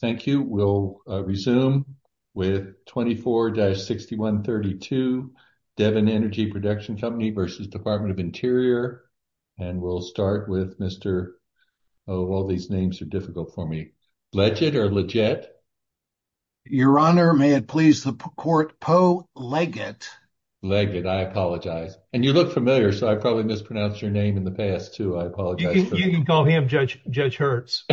Thank you. We'll resume with 24-6132 Devon Energy Production Company v. Department of Interior, and we'll start with Mr. Leggett. Your Honor, may it please the court, Poe Leggett. Leggett, I apologize. And you look familiar, so I probably mispronounced your name in the past, I apologize. You can call him Judge Hertz.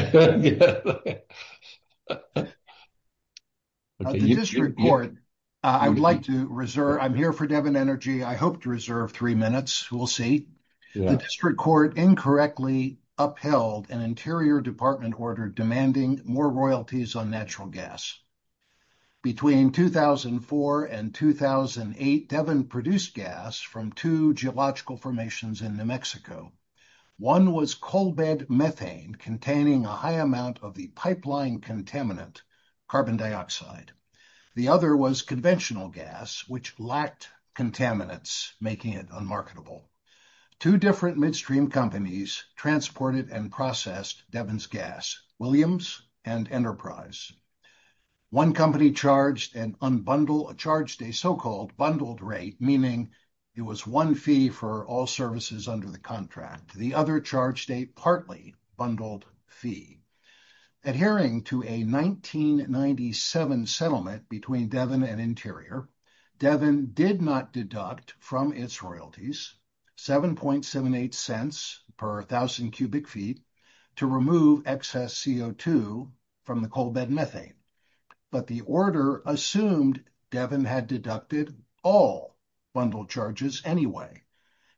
I would like to reserve, I'm here for Devon Energy, I hope to reserve three minutes, we'll see. The district court incorrectly upheld an interior department order demanding more royalties on natural gas. Between 2004 and 2008, Devon produced gas from two geological formations in New Mexico. One was coal bed methane containing a high amount of the pipeline contaminant, carbon dioxide. The other was conventional gas, which lacked contaminants, making it unmarketable. Two different midstream companies transported and processed Devon's gas, Williams and Enterprise. One company charged an unbundled, charged a so-called bundled rate, meaning it was one fee for all services under the contract. The other charged a partly bundled fee. Adhering to a 1997 settlement between Devon and Interior, Devon did not deduct from its royalties 7.78 cents per thousand cubic feet to remove excess CO2 from the coal bed methane. But the order assumed Devon had deducted all bundle charges anyway.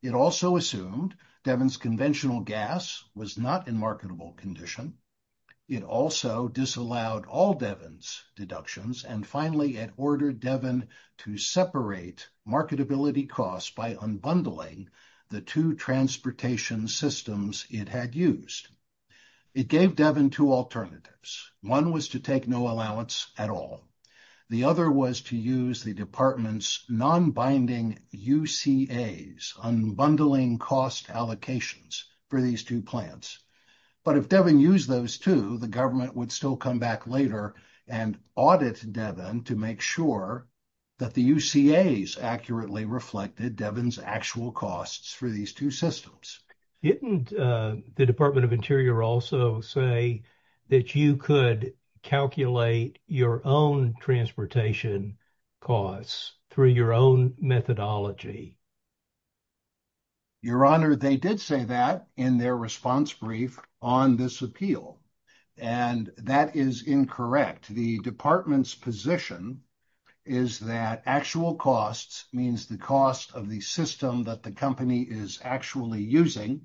It also assumed Devon's conventional gas was not in marketable condition. It also disallowed all Devon's deductions, and finally it ordered Devon to separate marketability costs by unbundling the two transportation systems it had used. It gave Devon two alternatives. One was to take no allowance at all. The other was to use the department's non-binding UCAs, unbundling cost allocations for these two plants. But if Devon used those two, the government would still come back later and audit Devon to make sure that the UCAs accurately reflected Devon's actual costs for these two systems. Didn't the Department of Interior also say that you could calculate your own transportation costs through your own methodology? Your Honor, they did say that in their response brief on this appeal, and that is incorrect. The department's position is that actual costs means the cost of the system that the company is actually using,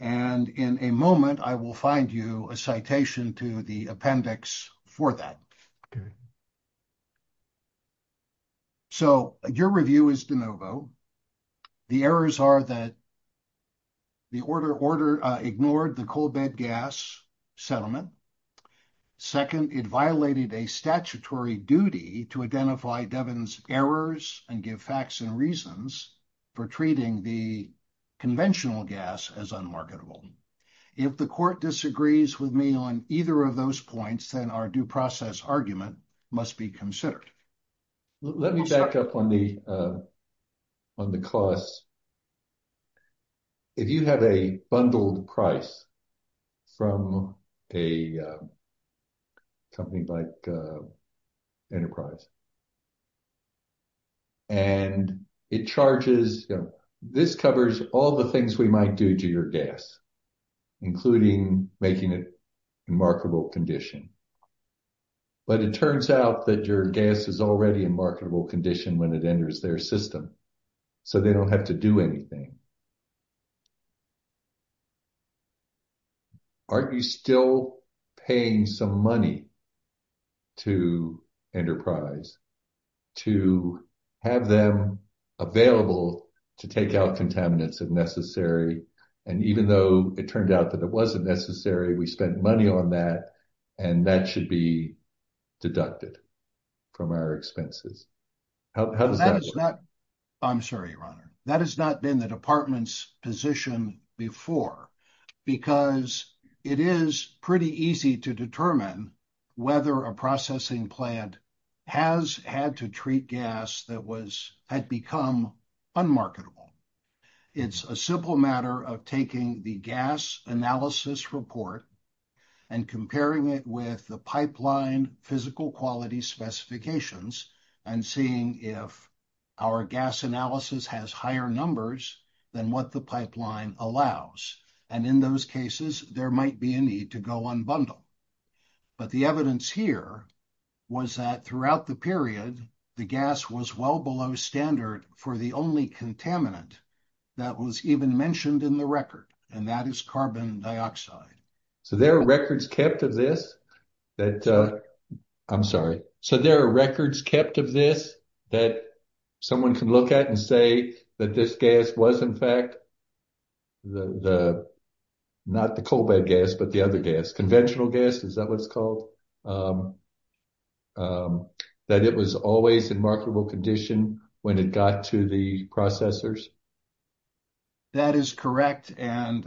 and in a moment I will find you a citation to the appendix for that. So your review is de novo. The errors are that the order ignored the coal bed gas settlement. Second, it violated a statutory duty to identify Devon's errors and give facts and reasons for treating the conventional gas as unmarketable. If the court disagrees with me on either of those points, then our due process argument must be considered. Let me back up on the cost. If you have a bundled price from a company like Enterprise, and it charges, this covers all the things we might do to your gas, including making it in marketable condition. But it turns out that your gas is already in marketable condition when it enters their system, so they don't have to do anything. Are you still paying some money to Enterprise to have them available to take out contaminants if necessary? And even though it turned out that it wasn't necessary, we spent money on that, and that should be deducted from our expenses. How does that work? I'm sorry, that has not been the department's position before, because it is pretty easy to determine whether a processing plant has had to treat gas that had become unmarketable. It's a simple matter of taking the gas analysis report and comparing it with the pipeline physical quality specifications and seeing if our gas analysis has higher numbers than what the pipeline allows. And in those cases, there might be a need to go unbundle. But the evidence here was that throughout the period, the gas was well below standard for the only contaminant that was even mentioned in the record, and that is carbon dioxide. So, there are records kept of this that... I'm sorry. So, there are records kept of this that someone can look at and say that this gas was, in fact, not the coal bed gas, but the other gas, conventional gas, is that what it's called? That it was always in marketable condition when it got to the processors? That is correct. And...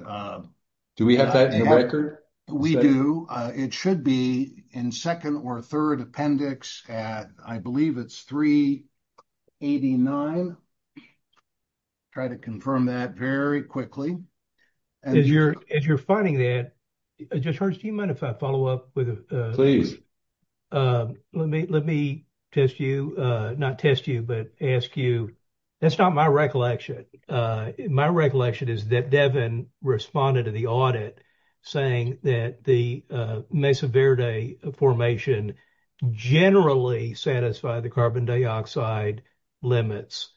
Do we have that in the record? We do. It should be in second or third appendix at, I believe it's 389. Try to confirm that very quickly. As you're finding that, it just hurts. Do you mind if I follow up with... Please. Let me test you. Not test you, but ask you. That's not my recollection. My recollection is that Devin responded to the audit saying that the Mesa Verde formation generally satisfied the carbon dioxide limits.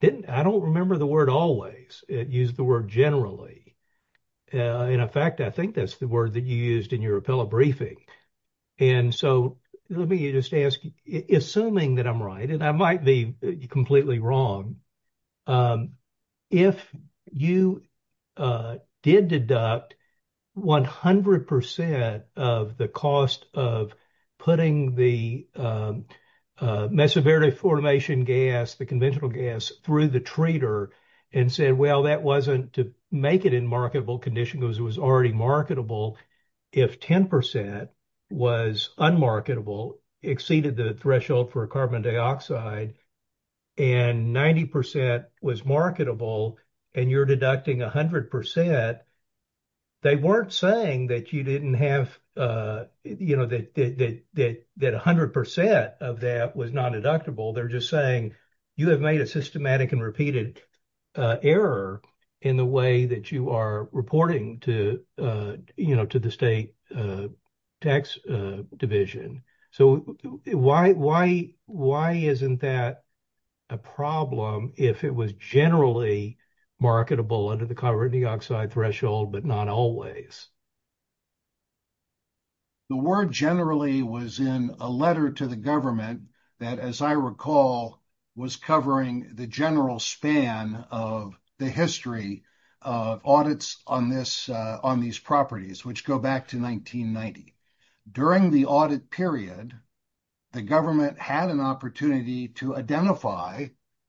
I don't remember the word always. It used the word generally. In fact, I think that's the word that you used in your appellate briefing. And so, let me just ask, assuming that I'm right, and I might be completely wrong, if you did deduct 100% of the cost of putting the Mesa Verde formation gas, the conventional gas, through the treater and said, well, that wasn't to make it in marketable condition because it was already marketable. If 10% was unmarketable, exceeded the threshold for carbon dioxide, and 90% was marketable, and you're deducting 100%, they weren't saying that you didn't have... That 100% of that was not deductible. They're just saying you have made a systematic and repeated error in the way that you are reporting to the state tax division. So, why isn't that a problem if it was generally marketable under the carbon dioxide threshold, but not always? The word generally was in a letter to the government that, as I recall, was covering the general span of the history of audits on these properties, which go back to 1990. During the audit period, the government had an opportunity to identify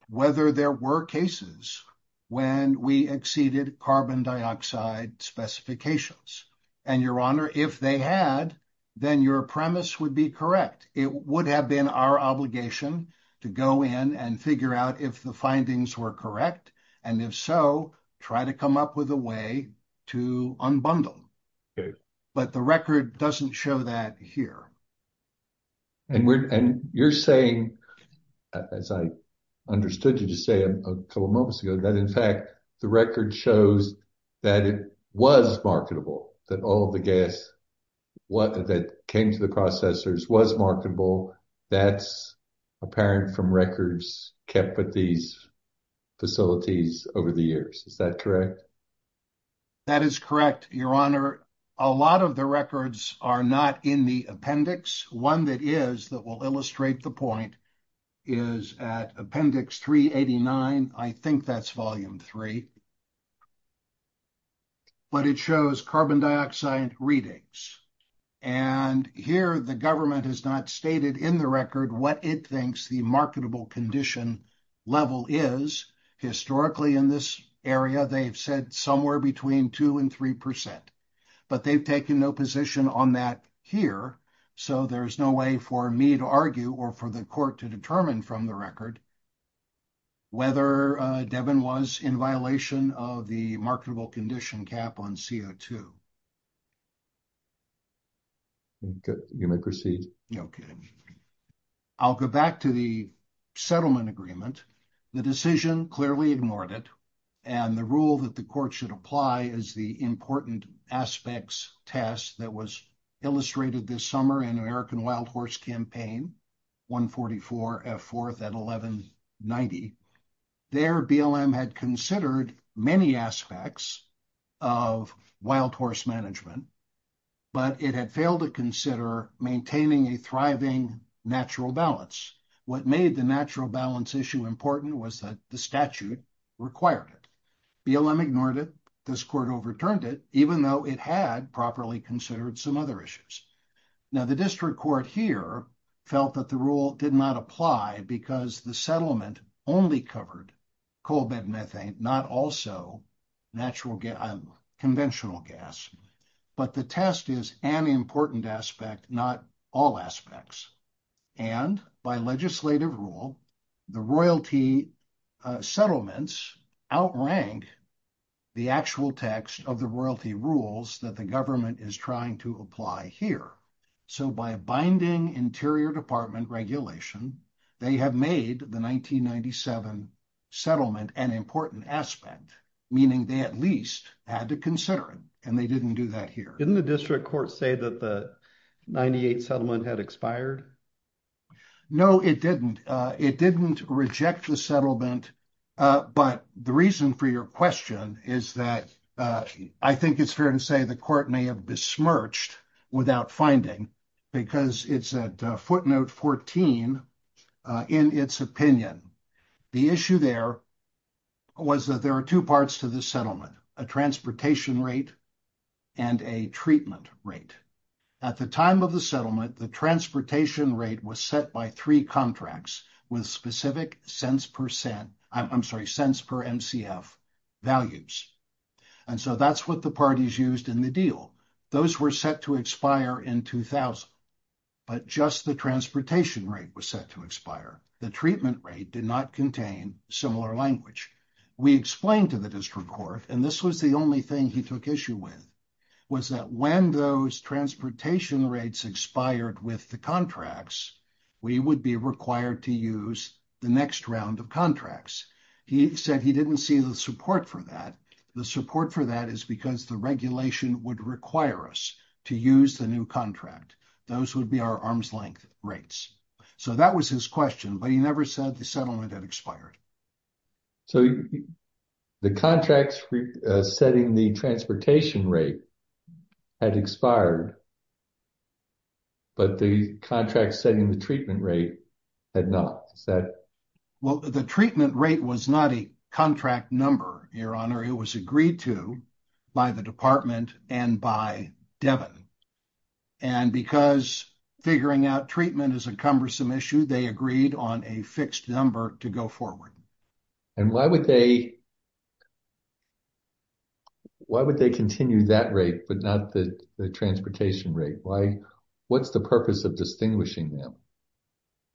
whether there were cases when we exceeded carbon dioxide specifications. And your honor, if they had, then your premise would be correct. It would have been our obligation to go in and figure out if the findings were correct. And if so, try to come up with a way to unbundle. But the record doesn't show that here. And you're saying, as I understood you to say a couple of moments ago, that in fact, the record shows that it was marketable, that all the gas that came to the processors was marketable. That's apparent from records kept at these facilities over the years. Is that correct? That is correct, your honor. A lot of the records are not in the appendix. One that is, that will illustrate the point, is at appendix 389. I think that's volume three. But it shows carbon dioxide readings. And here the government has not stated in the record what it thinks the marketable condition level is. Historically in this area, they've said somewhere between 2% and 3%. But they've taken no position on that here. So there's no way for me to argue or for the court to determine from the record whether Devin was in violation of the marketable condition cap on CO2. You may proceed. Okay. I'll go back to the settlement agreement. The decision clearly ignored it. And the rule that the court should apply is the important aspects test that was illustrated this summer in American Wild Horse Campaign, 144F4 at 1190. There BLM had considered many aspects of wild horse management, but it had failed to consider maintaining a thriving natural balance. What made the natural balance issue important was that the statute required it. BLM ignored it. This court overturned it, even though it had properly considered some other issues. Now the district court here felt that the rule did not apply because the settlement only covered coal bed methane, not also natural gas, conventional gas. But the test is an important aspect, not all aspects. And by legislative rule, the royalty settlements outranked the actual text of the royalty rules that the government is trying to apply here. So by binding interior department regulation, they have made the 1997 settlement an important aspect, meaning they at least had to consider it. Didn't the district court say that the 98 settlement had expired? No, it didn't. It didn't reject the settlement. But the reason for your question is that I think it's fair to say the court may have besmirched without finding because it's at footnote 14 in its opinion. The issue there was that there are two parts to the settlement, a transportation rate and a treatment rate. At the time of the settlement, the transportation rate was set by three contracts with specific cents per cent, I'm sorry, cents per MCF values. And so that's what the parties used in the deal. Those were set to expire in 2000, but just the transportation rate was set to expire. The treatment rate did not contain similar language. We explained to the district court, and this was the only thing he took issue with, was that when those transportation rates expired with the contracts, we would be required to use the next round of contracts. He said he didn't see the support for that. The support for that is because the regulation would require us to use the new contract. Those would be our arms rates. So that was his question, but he never said the settlement had expired. So the contracts setting the transportation rate had expired, but the contract setting the treatment rate had not. Well, the treatment rate was not a contract number, Your Honor. It was agreed to by the department and by Devin. And because figuring out treatment is a cumbersome issue, they agreed on a fixed number to go forward. And why would they continue that rate, but not the transportation rate? What's the purpose of distinguishing them?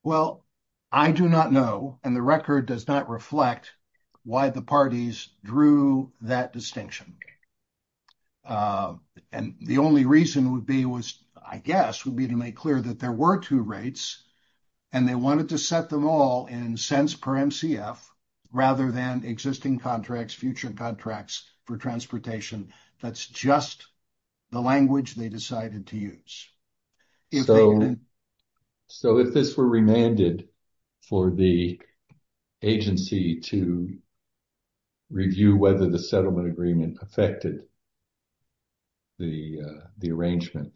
Well, I do not know, and the record does not reflect why the parties drew that distinction. And the only reason would be, I guess, would be to make clear that there were two rates, and they wanted to set them all in cents per MCF rather than existing contracts, future contracts for transportation. That's just the language they decided to use. So if this were remanded for the agency to review whether the settlement agreement affected the arrangement,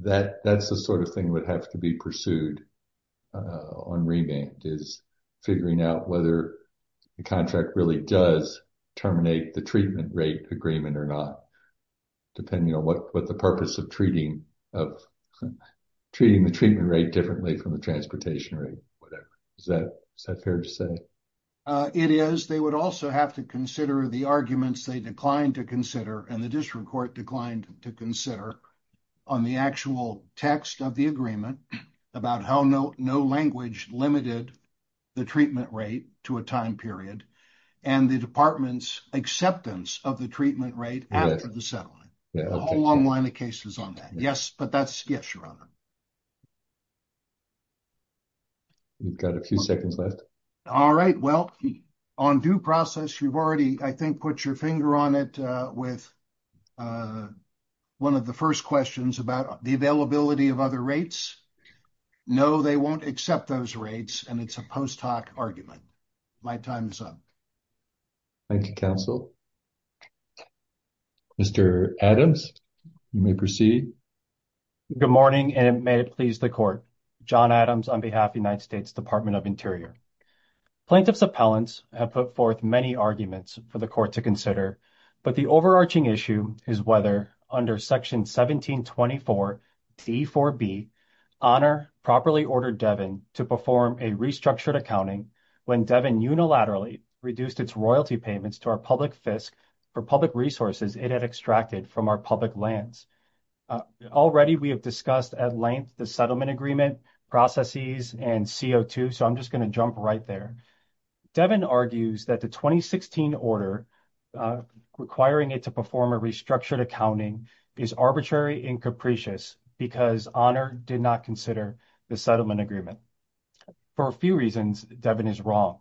that's the sort of thing that would have to be pursued on remand, is figuring out whether the contract really does terminate the treatment rate agreement or not, depending on what the purpose of treating the treatment rate differently from the transportation rate, whatever. Is that fair to say? It is. They would also have to consider the arguments they declined to consider, and the district court declined to consider, on the actual text of the agreement about how no language limited the treatment rate to a time period, and the department's acceptance of the treatment rate after the settlement. A whole long line of cases on that. Yes, but that's... Yes, Your Honor. We've got a few seconds left. All right. Well, on due process, you've already, I think, put your finger on it with one of the first questions about the availability of other rates. No, they won't accept those rates, and it's a post hoc argument. My time is up. Thank you, counsel. Mr. Adams, you may proceed. Good morning, and may it please the court. John Adams on behalf of the United States Department of Interior. Plaintiffs' appellants have put forth many arguments for the court to consider, but the overarching issue is whether, under section 1724 T4B, Honor properly ordered Devon to perform a restructured accounting when Devon unilaterally reduced its royalty payments to our public FISC for public resources it had extracted from our public lands. Already, we have discussed at length the settlement agreement processes and CO2, so I'm just going to jump right there. Devon argues that the 2016 order requiring it to perform a restructured accounting is arbitrary and capricious because Honor did not consider the settlement agreement. For a few reasons, Devon is wrong.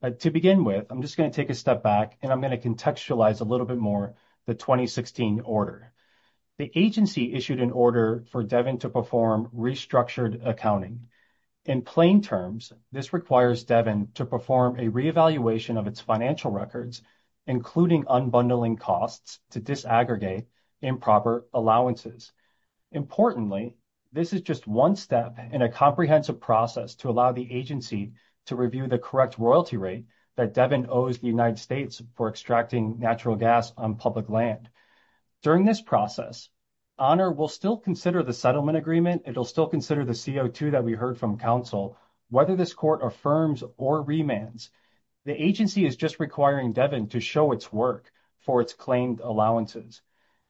But to begin with, I'm just going to take a step back, and I'm going to contextualize a little bit more the 2016 order. The agency issued an order for Devon to perform restructured accounting. In plain terms, this requires Devon to perform a reevaluation of its financial records, including unbundling costs to disaggregate improper allowances. Importantly, this is just one step in a comprehensive process to allow the agency to review the correct royalty rate that Devon owes the United States for extracting natural gas on public land. During this process, Honor will still consider the settlement agreement. It will still consider the CO2 that we heard from counsel, whether this court affirms or remands. The agency is just requiring Devon to show its work for its claimed allowances.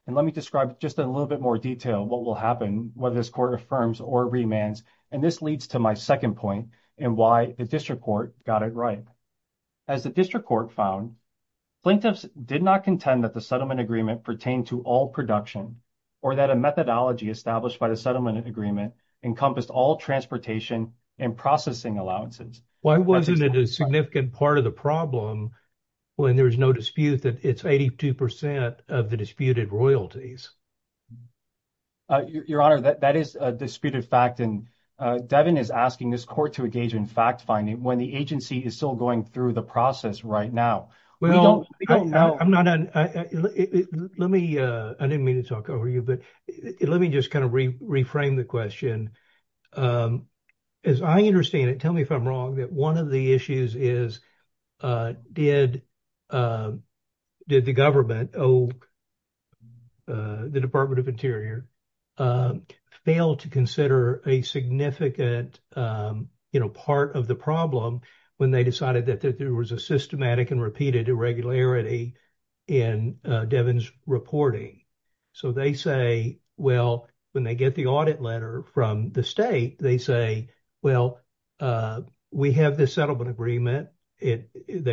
And let me describe just in a little bit more detail what will happen, whether this court affirms or remands, and this leads to my point, and why the district court got it right. As the district court found, plaintiffs did not contend that the settlement agreement pertained to all production, or that a methodology established by the settlement agreement encompassed all transportation and processing allowances. Why wasn't it a significant part of the problem when there's no dispute that it's 82% of the disputed royalties? Your Honor, that is a disputed fact, and Devon is asking this court to engage in fact-finding when the agency is still going through the process right now. We don't know. I didn't mean to talk over you, but let me just kind of reframe the question. As I understand it, tell me if I'm wrong, that one of the issues is, did the government, the Department of Interior, fail to consider a significant part of the problem when they decided that there was a systematic and repeated irregularity in Devon's reporting? So they say, well, when they get the audit letter from the state, they say, well, we have this settlement agreement. They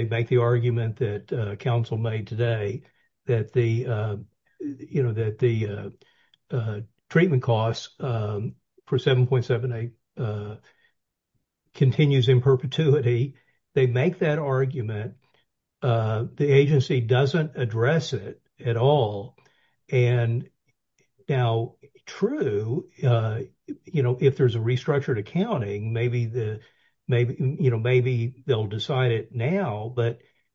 make the argument that counsel made today that the treatment costs for 7.78 continues in perpetuity. They make that argument. The agency doesn't address it at all. And now, true, if there's restructured accounting, maybe they'll decide it now.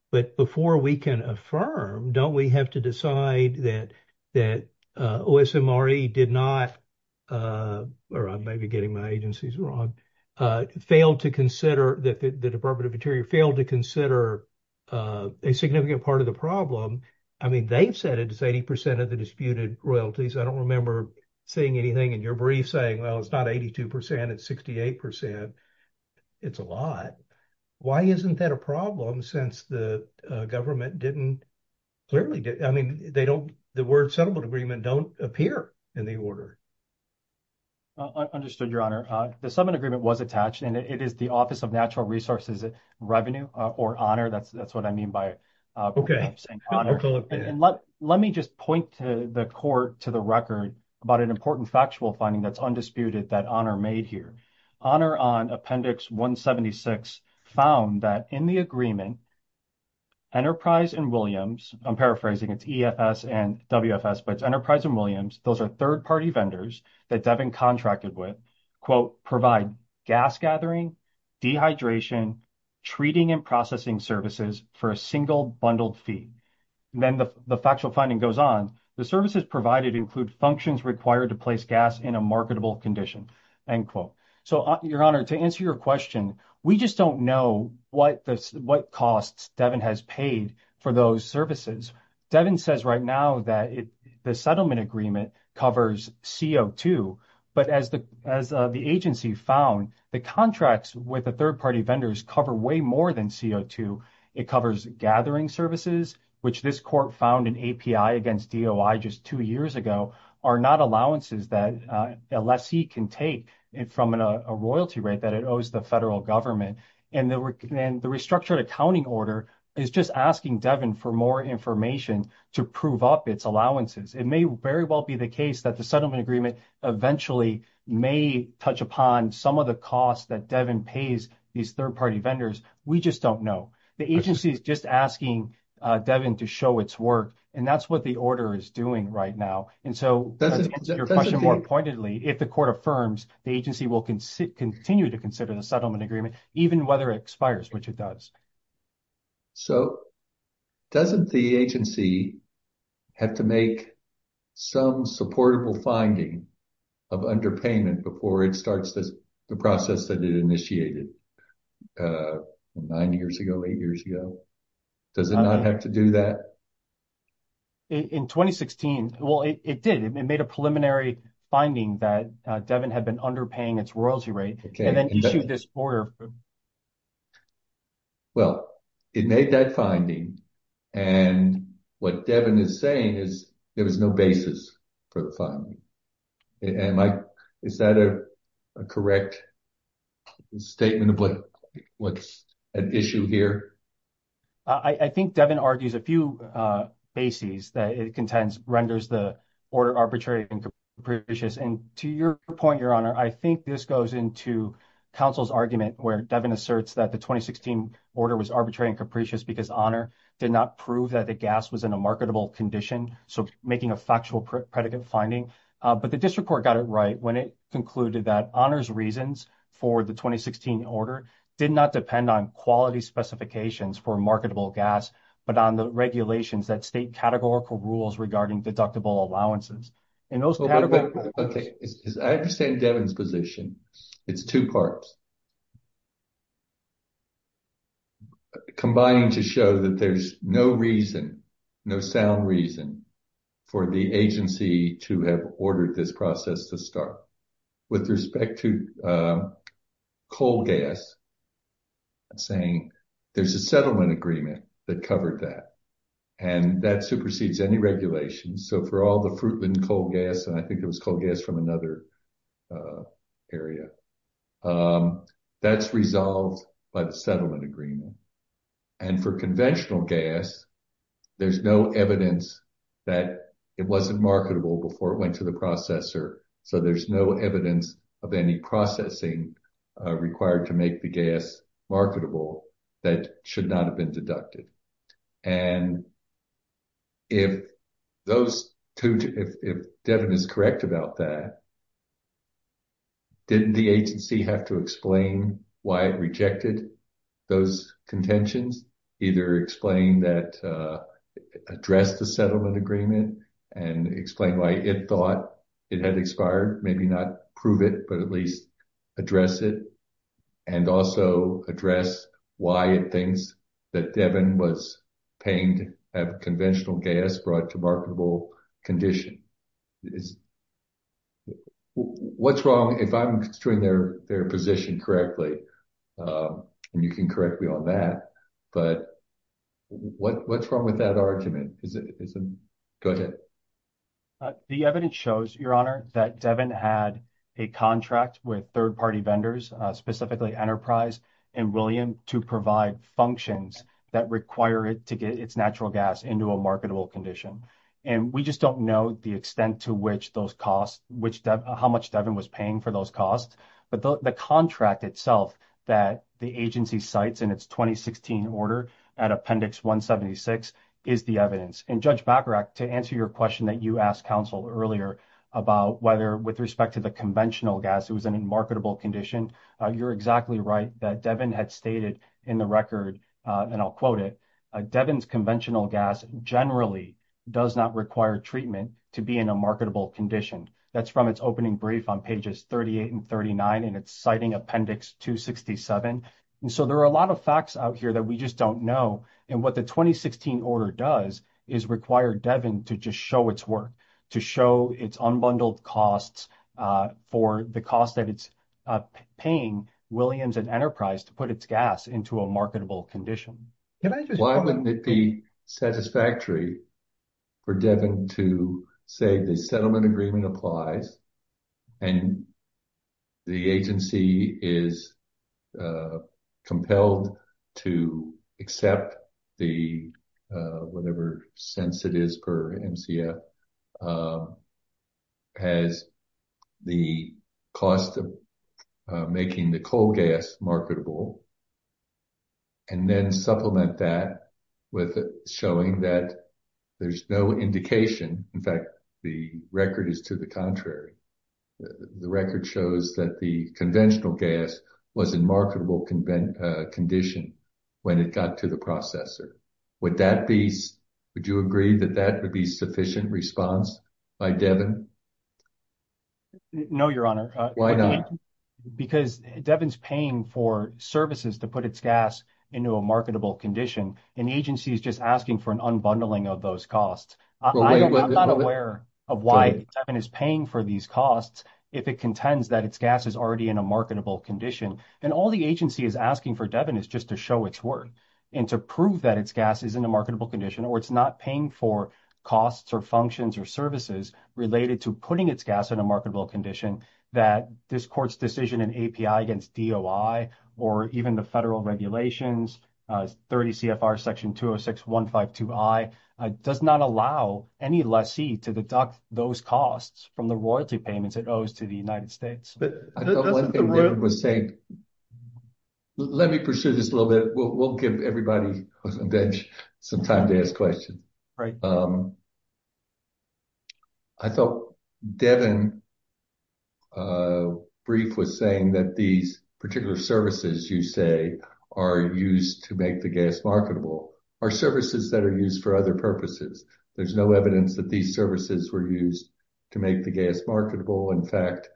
But before we can affirm, don't we have to decide that OSMRE did not, or I may be getting my agencies wrong, failed to consider that the Department of Interior failed to consider a significant part of the problem. I mean, they've said it's 80% of the disputed royalties. I don't remember seeing anything in your brief saying, well, it's not 82%, it's 68%. It's a lot. Why isn't that a problem since the government didn't clearly, I mean, they don't, the word settlement agreement don't appear in the order. I understood, Your Honor. The settlement agreement was attached and it is the Office of Natural Resources Revenue or Honor. That's what I mean by saying honor. Let me just point the court to the record about an important factual finding that's undisputed that Honor made here. Honor on Appendix 176 found that in the agreement, Enterprise and Williams, I'm paraphrasing, it's EFS and WFS, but it's Enterprise and Williams. Those are third-party vendors that Devin contracted with, quote, provide gas gathering, dehydration, treating and processing services for a single bundled fee. Then the factual finding goes on. The services provided include functions required to place gas in a marketable condition, end quote. So Your Honor, to answer your question, we just don't know what costs Devin has paid for those services. Devin says right now that the settlement agreement covers CO2. But as the agency found, the contracts with the third-party vendors cover way more than CO2. It covers gathering services, which this court found in API against DOI just two years ago, are not allowances that a lessee can take from a royalty rate that it owes the federal government. And the restructured accounting order is just asking Devin for more information to prove up its allowances. It may very well be the case that the settlement agreement eventually may touch upon some of the costs that Devin pays these third-party vendors. We just don't know. The agency is just asking Devin to show its work. And that's what the order is doing right now. And so to answer your question more pointedly, if the court affirms, the agency will continue to consider the settlement agreement, even whether it expires, which it does. So, doesn't the agency have to make some supportable finding of underpayment before it starts the process that it initiated nine years ago, eight years ago? Does it not have to do that? In 2016, well, it did. It made a preliminary finding that Devin had been underpaying its Well, it made that finding. And what Devin is saying is there was no basis for the finding. Is that a correct statement of what's at issue here? I think Devin argues a few bases that it contends renders the order arbitrary and capricious. And to your point, Your Honor, I think this goes into counsel's argument where Devin asserts that the 2016 order was arbitrary and capricious because Honor did not prove that the gas was in a marketable condition. So, making a factual predicate finding. But the district court got it right when it concluded that Honor's reasons for the 2016 order did not depend on quality specifications for marketable gas, but on the regulations that state categorical rules regarding deductible allowances. And those categories... Okay. I understand Devin's position. It's two parts. Combining to show that there's no reason, no sound reason for the agency to have ordered this process to start. With respect to coal gas, I'm saying there's a settlement agreement that covered that. And that supersedes any regulations. So, for all the Fruitland coal gas, and I think it was coal gas from another area, that's resolved by the settlement agreement. And for conventional gas, there's no evidence that it wasn't marketable before it went to the processor. So, there's no evidence of any processing required to make the gas marketable that should not have been deducted. And if Devin is correct about that, didn't the agency have to explain why it rejected those contentions? Either explain that... Address the settlement agreement and explain why it thought it had expired. Maybe not prove it, but at least address it. And also address why it thinks that Devin was paying to have conventional gas brought to marketable condition. What's wrong if I'm doing their position correctly? And you can correct me on that. But what's wrong with that argument? Go ahead. The evidence shows, Your Honor, that Devin had a contract with third-party vendors, specifically Enterprise and William, to provide functions that require it to get its natural gas into a marketable condition. And we just don't know the extent to which those costs, how much Devin was paying for those costs. But the contract itself that the agency cites in its 2016 order at Appendix 176 is the evidence. And Judge Bacharach, to answer your question that you exactly right, that Devin had stated in the record, and I'll quote it, Devin's conventional gas generally does not require treatment to be in a marketable condition. That's from its opening brief on pages 38 and 39, and it's citing Appendix 267. And so there are a lot of facts out here that we just don't know. And what the 2016 order does is require Devin to just show its work, to show its unbundled costs for the cost that it's paying Williams and Enterprise to put its gas into a marketable condition. Why wouldn't it be satisfactory for Devin to say the settlement agreement applies and the agency is compelled to accept the, whatever sense it is per MCF, has the cost of making the coal gas marketable, and then supplement that with showing that there's no indication. In fact, the record is to the contrary. The record shows that the conventional gas was in marketable condition when it got to the processor. Would you agree that that would be sufficient response by Devin? No, Your Honor. Why not? Because Devin's paying for services to put its gas into a marketable condition, and the agency is just asking for an unbundling of those costs. I'm not aware of why Devin is paying for these costs, if it contends that its gas is already in a marketable condition. And all the agency is asking for Devin is just to show its work and to prove that its gas is in a marketable condition, or it's not paying for costs or functions or services related to putting its gas in a marketable condition that this court's against DOI, or even the federal regulations, 30 CFR section 206152I, does not allow any lessee to deduct those costs from the royalty payments it owes to the United States. Let me pursue this a little bit. We'll give everybody some time to ask questions. Right. I thought Devin's brief was saying that these particular services, you say, are used to make the gas marketable, or services that are used for other purposes. There's no evidence that these services were used to make the gas marketable. In fact,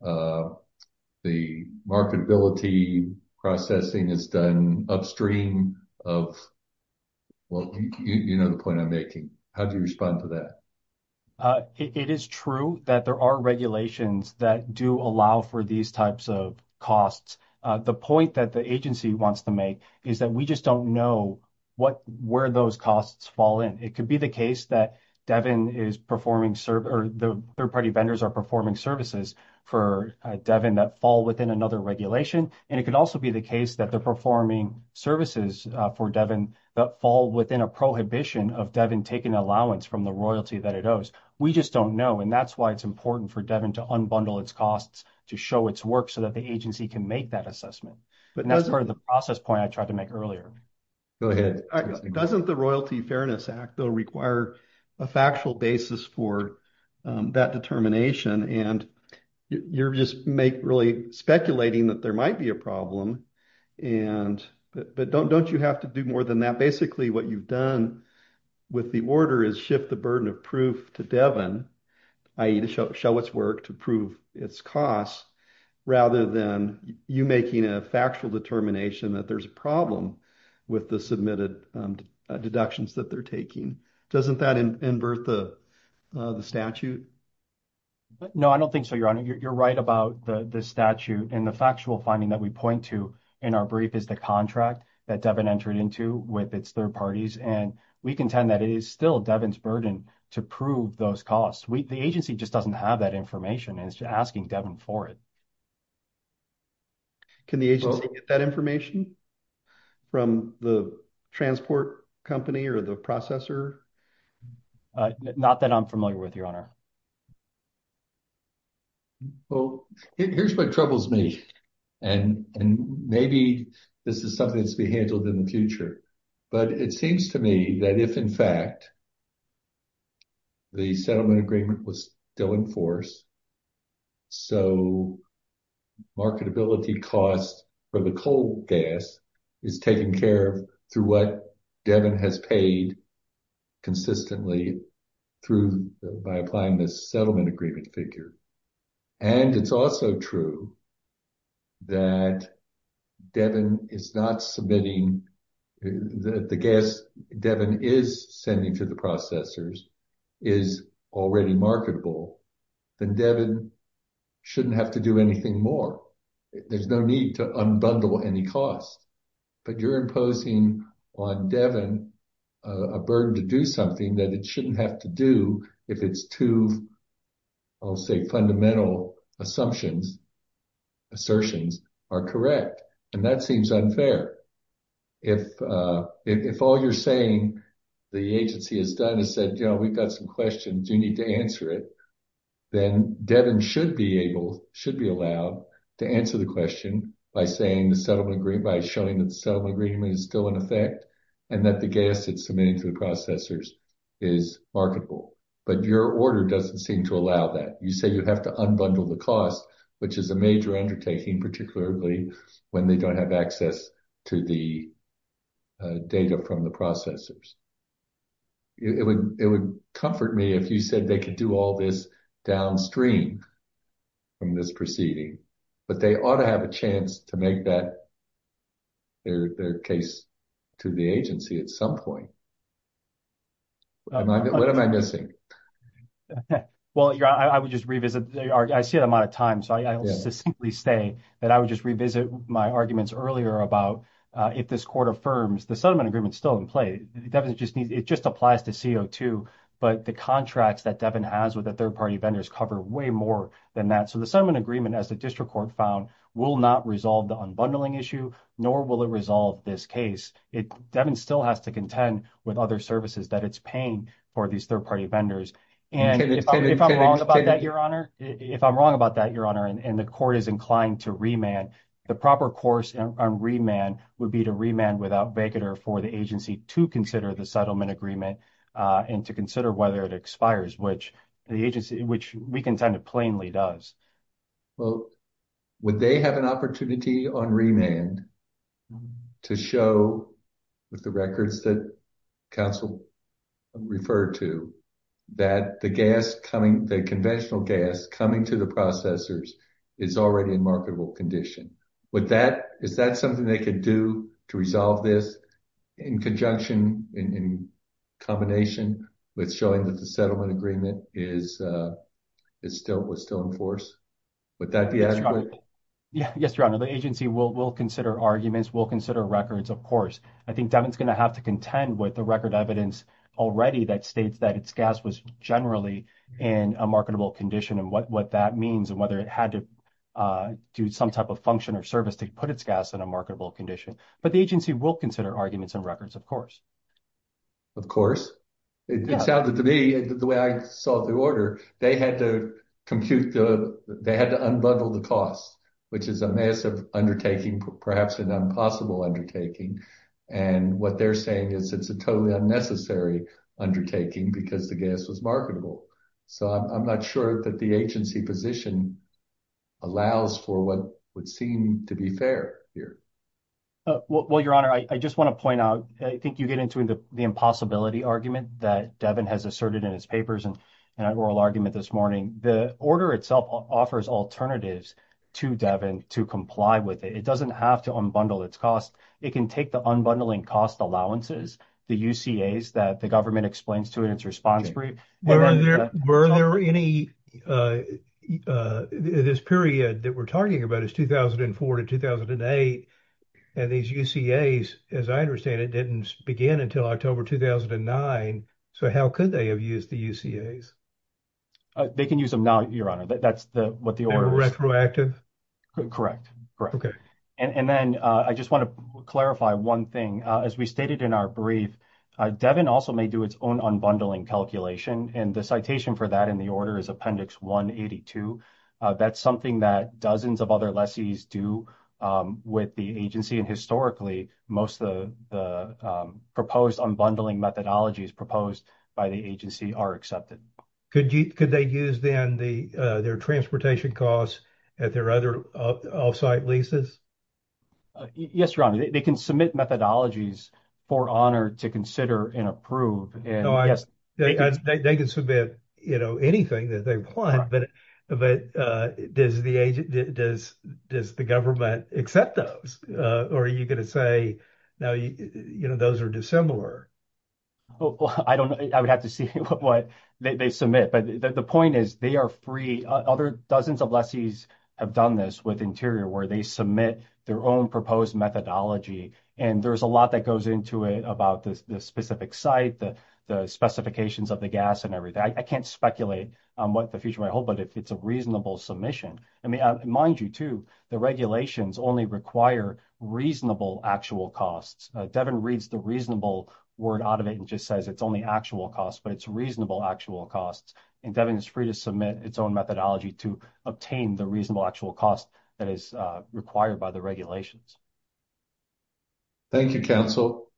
the marketability processing is done upstream of, well, you know the point I'm making. How do you respond to that? It is true that there are regulations that do allow for these types of costs. The point that the agency wants to make is that we just don't know where those costs fall in. It could be the case that Devin is performing, or the third-party vendors are performing services for Devin that fall within another regulation. It could also be the case that they're performing services for Devin that fall within a prohibition of Devin taking allowance from the royalty that it owes. We just don't know. That's why it's important for Devin to unbundle its costs to show its work so that the agency can make that assessment. That's part of the process point I tried to make earlier. Go ahead. Doesn't the Royalty Fairness Act, though, require a factual basis for that determination? You're just speculating that there might be a problem. Don't you have to do more than that? Basically, what you've done with the order is shift the burden of proof to Devin, i.e. to show its work to prove its costs, rather than you making a factual determination that there's a problem with the submitted deductions that they're taking. Doesn't that invert the statute? No, I don't think so, Your Honor. You're right about the statute. The factual finding that we point to in our brief is the contract that Devin entered into with its third parties. We contend that it is still Devin's burden to prove those costs. The agency just doesn't have that information and is asking Devin for it. Can the agency get that information from the transport company or the processor? Not that I'm familiar with, Your Honor. Well, here's what troubles me, and maybe this is something that's to be handled in the future, but it seems to me that if, in fact, the settlement agreement was still in force, so marketability costs for the coal gas is taken care of through what Devin has paid consistently by applying this settlement agreement figure, and it's also true that Devin is not submitting the gas Devin is sending to the processors is already marketable, then Devin shouldn't have to do anything more. There's no need to unbundle any cost, but you're imposing on Devin a burden to do something that it shouldn't have to do if it's two, I'll say, fundamental assumptions, assertions are correct, and that seems unfair. If all you're saying the agency has done is said, you know, we've got some questions, you need to answer it, then Devin should be allowed to answer the question by showing that the settlement agreement is still in effect and that the gas it's submitting to the processors is marketable, but your order doesn't seem to allow that. You say you have to unbundle the cost, which is a major undertaking, particularly when they don't have access to the data from the processors. It would comfort me if you said they could do all this downstream from this proceeding, but they ought to have a chance to make that their case to the agency at some point. What am I missing? Well, I would just revisit, I see the amount of time, so I'll just simply say that I would revisit my arguments earlier about if this court affirms the settlement agreement is still in play. It just applies to CO2, but the contracts that Devin has with the third-party vendors cover way more than that, so the settlement agreement, as the district court found, will not resolve the unbundling issue, nor will it resolve this case. Devin still has to contend with other services that it's paying for these third-party vendors, and if I'm wrong about that, Your Honor, and the district court is inclined to remand, the proper course on remand would be to remand without vacater for the agency to consider the settlement agreement and to consider whether it expires, which the agency, which we contend it plainly does. Well, would they have an opportunity on remand to show, with the records that counsel referred to, that the gas coming, the conventional gas coming to the processors is already in marketable condition? Is that something they could do to resolve this in conjunction, in combination with showing that the settlement agreement was still in force? Would that be adequate? Yes, Your Honor, the agency will consider arguments, will consider records, of course. I think Devin's going to have to contend with the record evidence already that states that its gas was generally in a marketable condition and what that means and whether it had to do some type of function or service to put its gas in a marketable condition, but the agency will consider arguments and records, of course. Of course. It sounded to me, the way I saw the order, they had to compute, they had to unbundle the cost, which is a massive undertaking, perhaps an impossible undertaking, and what they're saying is it's a totally unnecessary undertaking because the gas was marketable. So, I'm not sure that the agency position allows for what would seem to be fair here. Well, Your Honor, I just want to point out, I think you get into the impossibility argument that Devin has asserted in his papers and in that oral argument this morning. The order itself offers alternatives to Devin to comply with it. It doesn't have to unbundle its cost. It can take the unbundling cost allowances, the UCAs that the government explains to it in its response brief. Were there any, this period that we're talking about is 2004 to 2008 and these UCAs, as I understand it, didn't begin until October 2009. So, how could they have used the UCAs? They can use them now, Your Honor. That's what the order is. Are they retroactive? Correct. And then I just want to clarify one thing. As we stated in our brief, Devin also may do its own unbundling calculation and the citation for that in the order is Appendix 182. That's something that dozens of other lessees do with the agency and historically most of the proposed unbundling methodologies proposed by the agency are accepted. Could they use then their transportation costs at their other off-site leases? Yes, Your Honor. They can submit methodologies for honor to consider and approve. They can submit anything that they want, but does the government accept those? Or are you going to say, no, those are dissimilar? Well, I don't know. I would have to see what they submit, but the point is they are free. Other dozens of lessees have done this with Interior where they submit their own proposed methodology and there's a lot that goes into it about the specific site, the specifications of the gas and everything. I can't speculate on what the future might hold, but it's a reasonable submission. I mean, mind you too, the regulations only require reasonable actual costs. Devin reads the reasonable word out of it and just says it's only actual costs, but it's reasonable actual costs. And Devin is free to submit its own methodology to obtain the reasonable actual cost that is required by the regulations. Thank you, counsel.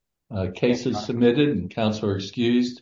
Case is submitted and counsel are excused.